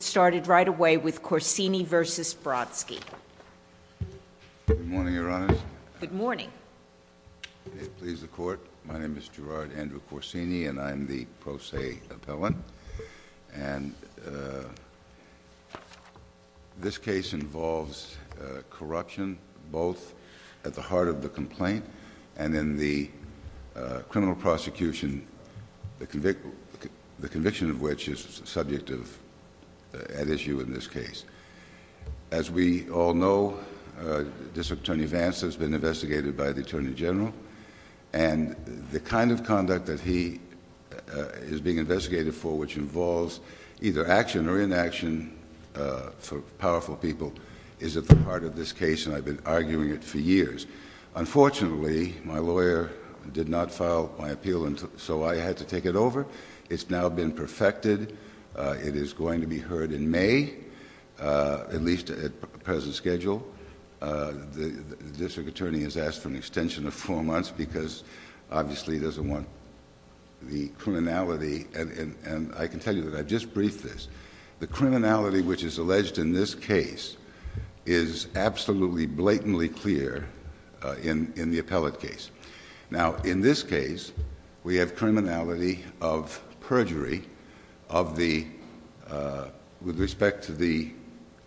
Good morning, Your Honors. Good morning. Please, the Court, my name is Gerard Andrew Corsini and I'm the pro se appellant, and this case involves corruption, both at the heart of the complaint and in the criminal prosecution, the conviction of which is the subject of trial. As we all know, District Attorney Vance has been investigated by the Attorney General, and the kind of conduct that he is being investigated for, which involves either action or inaction for powerful people, is at the heart of this case, and I've been arguing it for years. Unfortunately, my lawyer did not file my appeal, so I had to take it over. It's now been perfected. It is going to be heard in May, at least at present schedule. The District Attorney has asked for an extension of four months because, obviously, he doesn't want the criminality, and I can tell you that I've just briefed this. The criminality which is alleged in this case is absolutely blatantly clear in the appellate case. Now, in this case, we have criminality of perjury with respect to the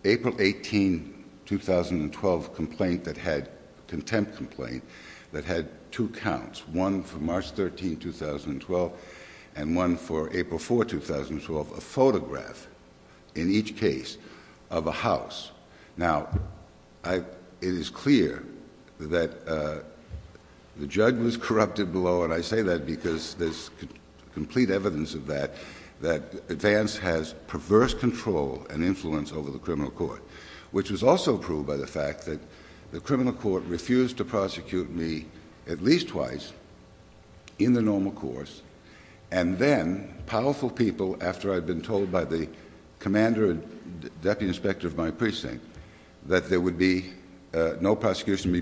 April 18, 2012, contempt complaint that had two counts, one for March 13, 2012, and one for April 4, 2012, a photograph in each case of a house. Now, it is clear that the judge was corrupted below, and I say that because there's complete evidence of that, that Vance has perverse control and influence over the criminal court, which was also proved by the fact that the criminal court refused to prosecute me at least twice in the normal course, and then powerful people, after I'd been told by the commander and deputy inspector of my precinct that there would be no prosecution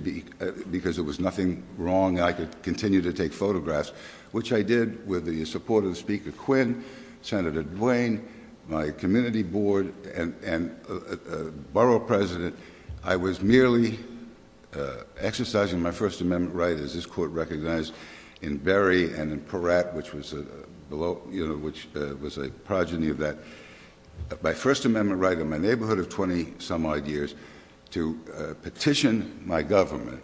because there was nothing wrong, I could continue to take photographs, which I did with the support of Speaker Quinn, Senator Duane, my community board, and borough president. I was merely exercising my First Amendment right, as this court recognized, in Berry and in Peratt, which was a progeny of that, my First Amendment right in my neighborhood of 20-some odd years, to petition my government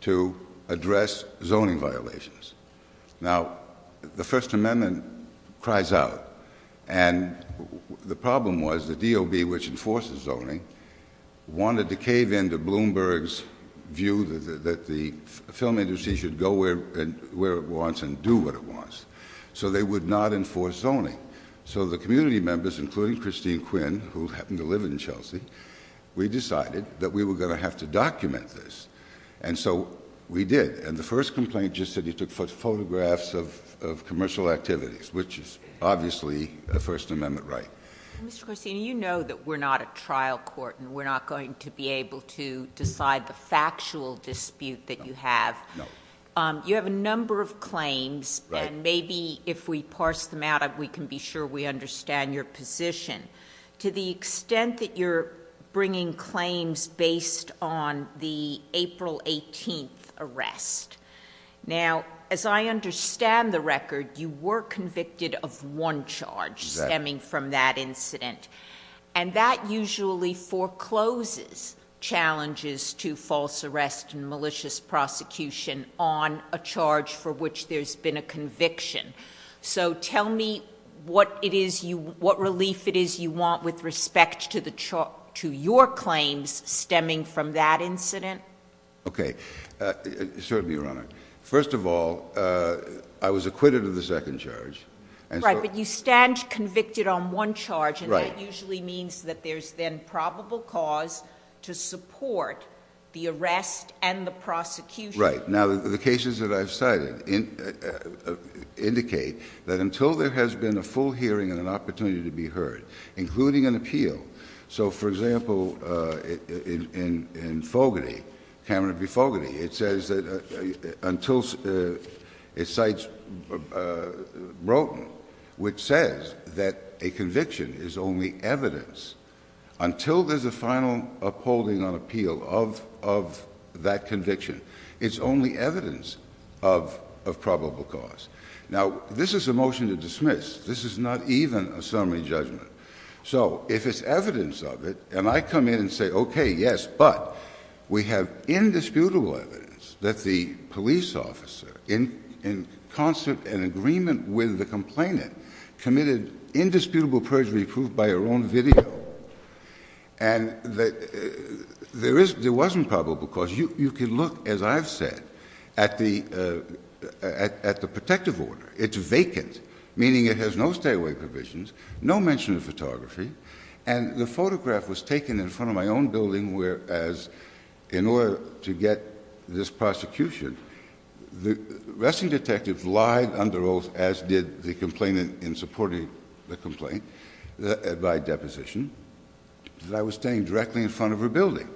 to address zoning violations. Now, the First Amendment cries out, and the problem was the DOB, which enforces zoning, wanted to cave in to Bloomberg's view that the film industry should go where it wants and do what it wants, so they would not enforce zoning. So the community members, including Christine Quinn, who happened to live in Chelsea, we decided that we were going to have to document this, and so we did. And the first complaint just said he took photographs of commercial activities, which is obviously a First Amendment right. Mr. Corsini, you know that we're not a trial court, and we're not going to be able to decide the factual dispute that you have. No. You have a number of claims, and maybe if we parse them out, we can be sure we understand your position. To the extent that you're bringing claims based on the April 18th arrest. Now, as I understand the record, you were convicted of one charge stemming from that incident. And that usually forecloses challenges to false arrest and malicious prosecution on a charge for which there's been a conviction. So tell me what relief it is you want with respect to your claims stemming from that incident. Okay. Certainly, Your Honor. First of all, I was acquitted of the second charge. Right, but you stand convicted on one charge, and that usually means that there's then probable cause to support the arrest and the prosecution. Right. Now, the cases that I've cited indicate that until there has been a full hearing and an opportunity to be heard, including an appeal. So, for example, in Fogarty, Cameron v. Fogarty, it says that until it cites Broughton, which says that a conviction is only evidence, until there's a final upholding on appeal of that conviction, it's only evidence of probable cause. Now, this is a motion to dismiss. This is not even a summary judgment. So if it's evidence of it, and I come in and say, okay, yes, but we have indisputable evidence that the police officer, in concert and agreement with the complainant, committed indisputable perjury proved by her own video, and there wasn't probable cause, you can look, as I've said, at the protective order. It's vacant, meaning it has no stay-away provisions, no mention of photography, and the photograph was taken in front of my own building, whereas in order to get this prosecution, the arresting detective lied under oath, as did the complainant in supporting the complaint by deposition, that I was standing directly in front of her building.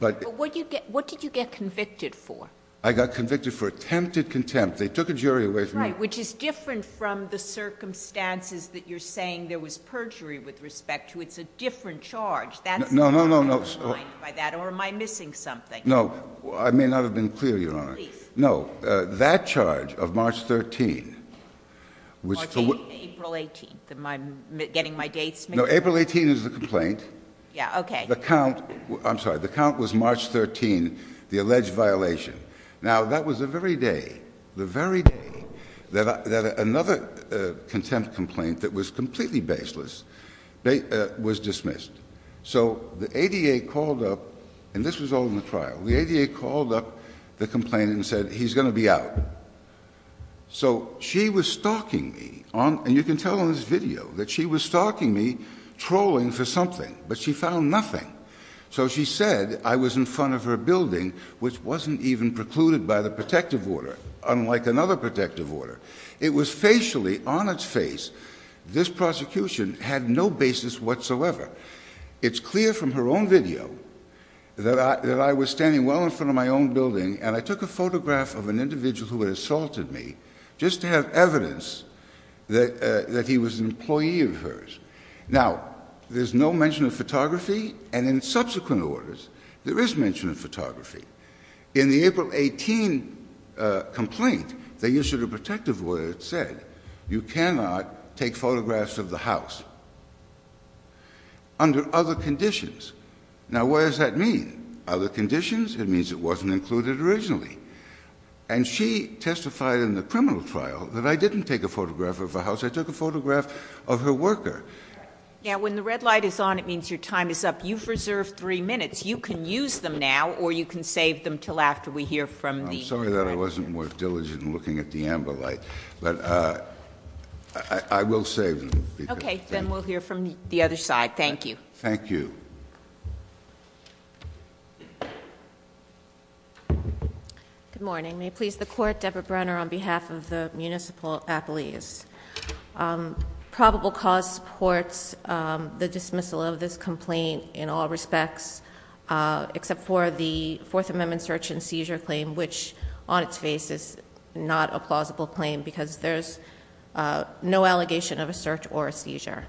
But what did you get convicted for? I got convicted for attempted contempt. They took a jury away from me. Right, which is different from the circumstances that you're saying there was perjury with respect to. It's a different charge. No, no, no, no. Am I blind by that, or am I missing something? No. I may not have been clear, Your Honor. Please. No. That charge of March 13th was for what? April 18th. I'm getting my dates mixed up. No, April 18th is the complaint. Yeah, okay. I'm sorry. The count was March 13th, the alleged violation. Now, that was the very day, the very day that another contempt complaint that was completely baseless was dismissed. So, the ADA called up, and this was all in the trial, the ADA called up the complainant and said, he's going to be out. So, she was stalking me, and you can tell in this video that she was stalking me, trolling for something, but she found nothing. So, she said I was in front of her building, which wasn't even precluded by the protective order, unlike another protective order. It was facially on its face. This prosecution had no basis whatsoever. It's clear from her own video that I was standing well in front of my own building, and I took a photograph of an individual who had assaulted me just to have evidence that he was an employee of hers. Now, there's no mention of photography, and in subsequent orders, there is mention of photography. In the April 18th complaint, the issue of the protective order said you cannot take photographs of the house under other conditions. Now, what does that mean? Other conditions? It means it wasn't included originally. And she testified in the criminal trial that I didn't take a photograph of a house. I took a photograph of her worker. Now, when the red light is on, it means your time is up. You've reserved three minutes. You can use them now, or you can save them until after we hear from the- I'm sorry that I wasn't more diligent in looking at the amber light, but I will save them. Okay, then we'll hear from the other side. Thank you. Thank you. Good morning. May it please the Court, Deborah Brenner on behalf of the Municipal Appellees. Probable cause supports the dismissal of this complaint in all respects, except for the Fourth Amendment search and seizure claim, which on its face is not a plausible claim because there's no allegation of a search or a seizure.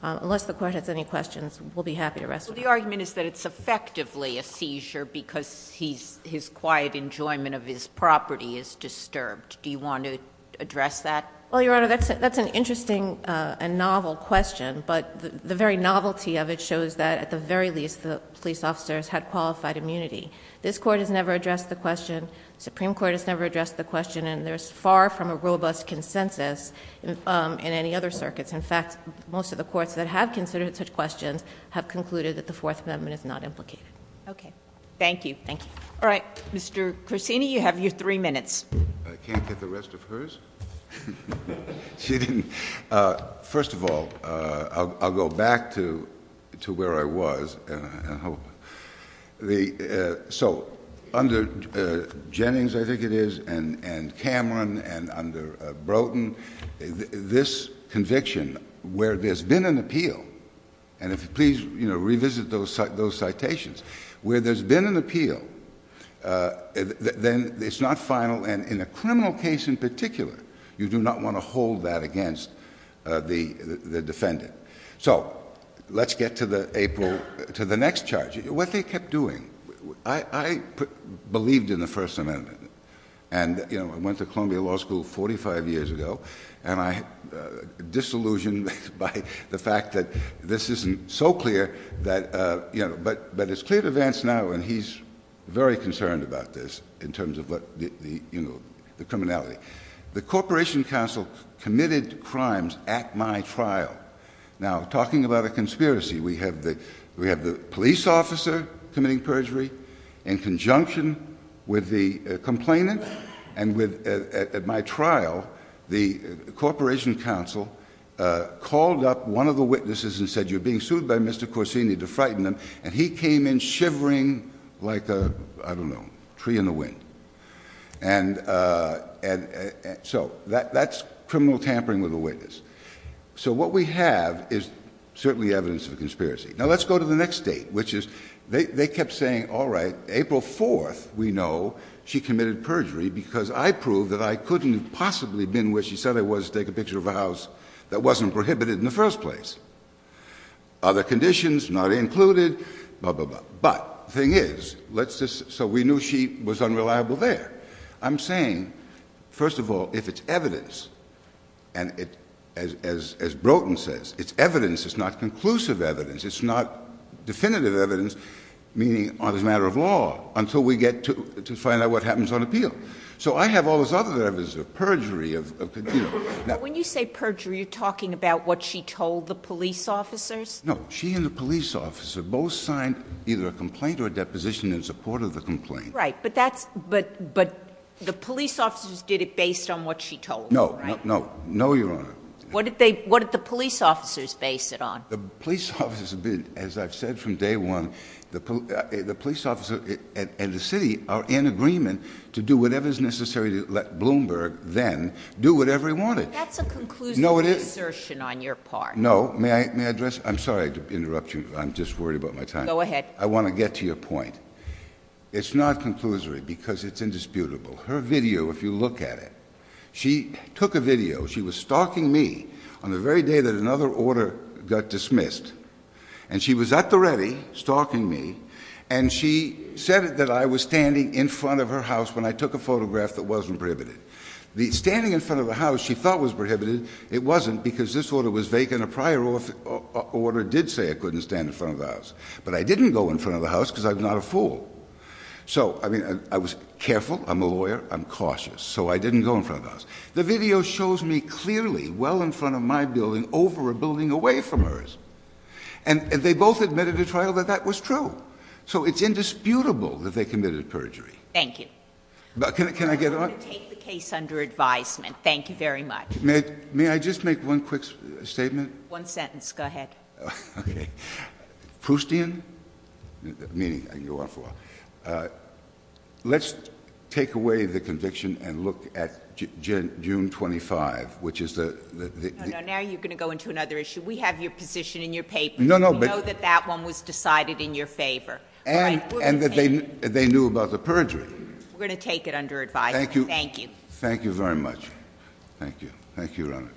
Unless the Court has any questions, we'll be happy to wrestle with it. So the argument is that it's effectively a seizure because his quiet enjoyment of his property is disturbed. Do you want to address that? Well, Your Honor, that's an interesting and novel question. But the very novelty of it shows that, at the very least, the police officers had qualified immunity. This Court has never addressed the question. The Supreme Court has never addressed the question. And there's far from a robust consensus in any other circuits. In fact, most of the courts that have considered such questions have concluded that the Fourth Amendment is not implicated. Okay. Thank you. Thank you. All right. Mr. Corsini, you have your three minutes. I can't get the rest of hers? She didn't. First of all, I'll go back to where I was. So under Jennings, I think it is, and Cameron, and under Broughton, this conviction, where there's been an appeal, and if you please revisit those citations, where there's been an appeal, then it's not final. And in a criminal case in particular, you do not want to hold that against the defendant. So let's get to the next charge. What they kept doing. I believed in the First Amendment, and I went to Columbia Law School 45 years ago, and I'm disillusioned by the fact that this isn't so clear, but it's clear to Vance now, and he's very concerned about this in terms of the criminality. The Corporation Counsel committed crimes at my trial. Now, talking about a conspiracy, we have the police officer committing perjury in conjunction with the complainant, and at my trial, the Corporation Counsel called up one of the witnesses and said, you're being sued by Mr. Corsini to frighten him, and he came in shivering like a, I don't know, tree in the wind. And so that's criminal tampering with a witness. So what we have is certainly evidence of a conspiracy. Now, let's go to the next date, which is they kept saying, all right, April 4th, we know, she committed perjury because I proved that I couldn't have possibly been where she said I was to take a picture of a house that wasn't prohibited in the first place. But the thing is, so we knew she was unreliable there. I'm saying, first of all, if it's evidence, and as Broughton says, it's evidence. It's not conclusive evidence. It's not definitive evidence, meaning it's a matter of law, until we get to find out what happens on appeal. So I have all this other evidence of perjury. When you say perjury, you're talking about what she told the police officers? No. She and the police officer both signed either a complaint or a deposition in support of the complaint. Right. But the police officers did it based on what she told them, right? No. No, Your Honor. What did the police officers base it on? The police officers, as I've said from day one, the police officer and the city are in agreement to do whatever is necessary to let Bloomberg then do whatever he wanted. That's a conclusive assertion on your part. No. May I address? I'm sorry to interrupt you. I'm just worried about my time. Go ahead. I want to get to your point. It's not conclusory because it's indisputable. Her video, if you look at it, she took a video. She was stalking me on the very day that another order got dismissed, and she was at the ready, stalking me, and she said that I was standing in front of her house when I took a photograph that wasn't prohibited. Standing in front of the house she thought was prohibited. It wasn't because this order was vacant. A prior order did say I couldn't stand in front of the house. But I didn't go in front of the house because I'm not a fool. So, I mean, I was careful. I'm a lawyer. I'm cautious. So I didn't go in front of the house. The video shows me clearly well in front of my building over a building away from hers. And they both admitted to trial that that was true. So it's indisputable that they committed perjury. Thank you. But can I get on? I'm going to take the case under advisement. Thank you very much. May I just make one quick statement? One sentence. Go ahead. Okay. Proustian? Meaning I can go on for a while. Let's take away the conviction and look at June 25, which is the — No, no. Now you're going to go into another issue. We have your position in your paper. No, no. We know that that one was decided in your favor. And that they knew about the perjury. We're going to take it under advisement. Thank you. Thank you. Thank you very much. Thank you. Thank you, Your Honor.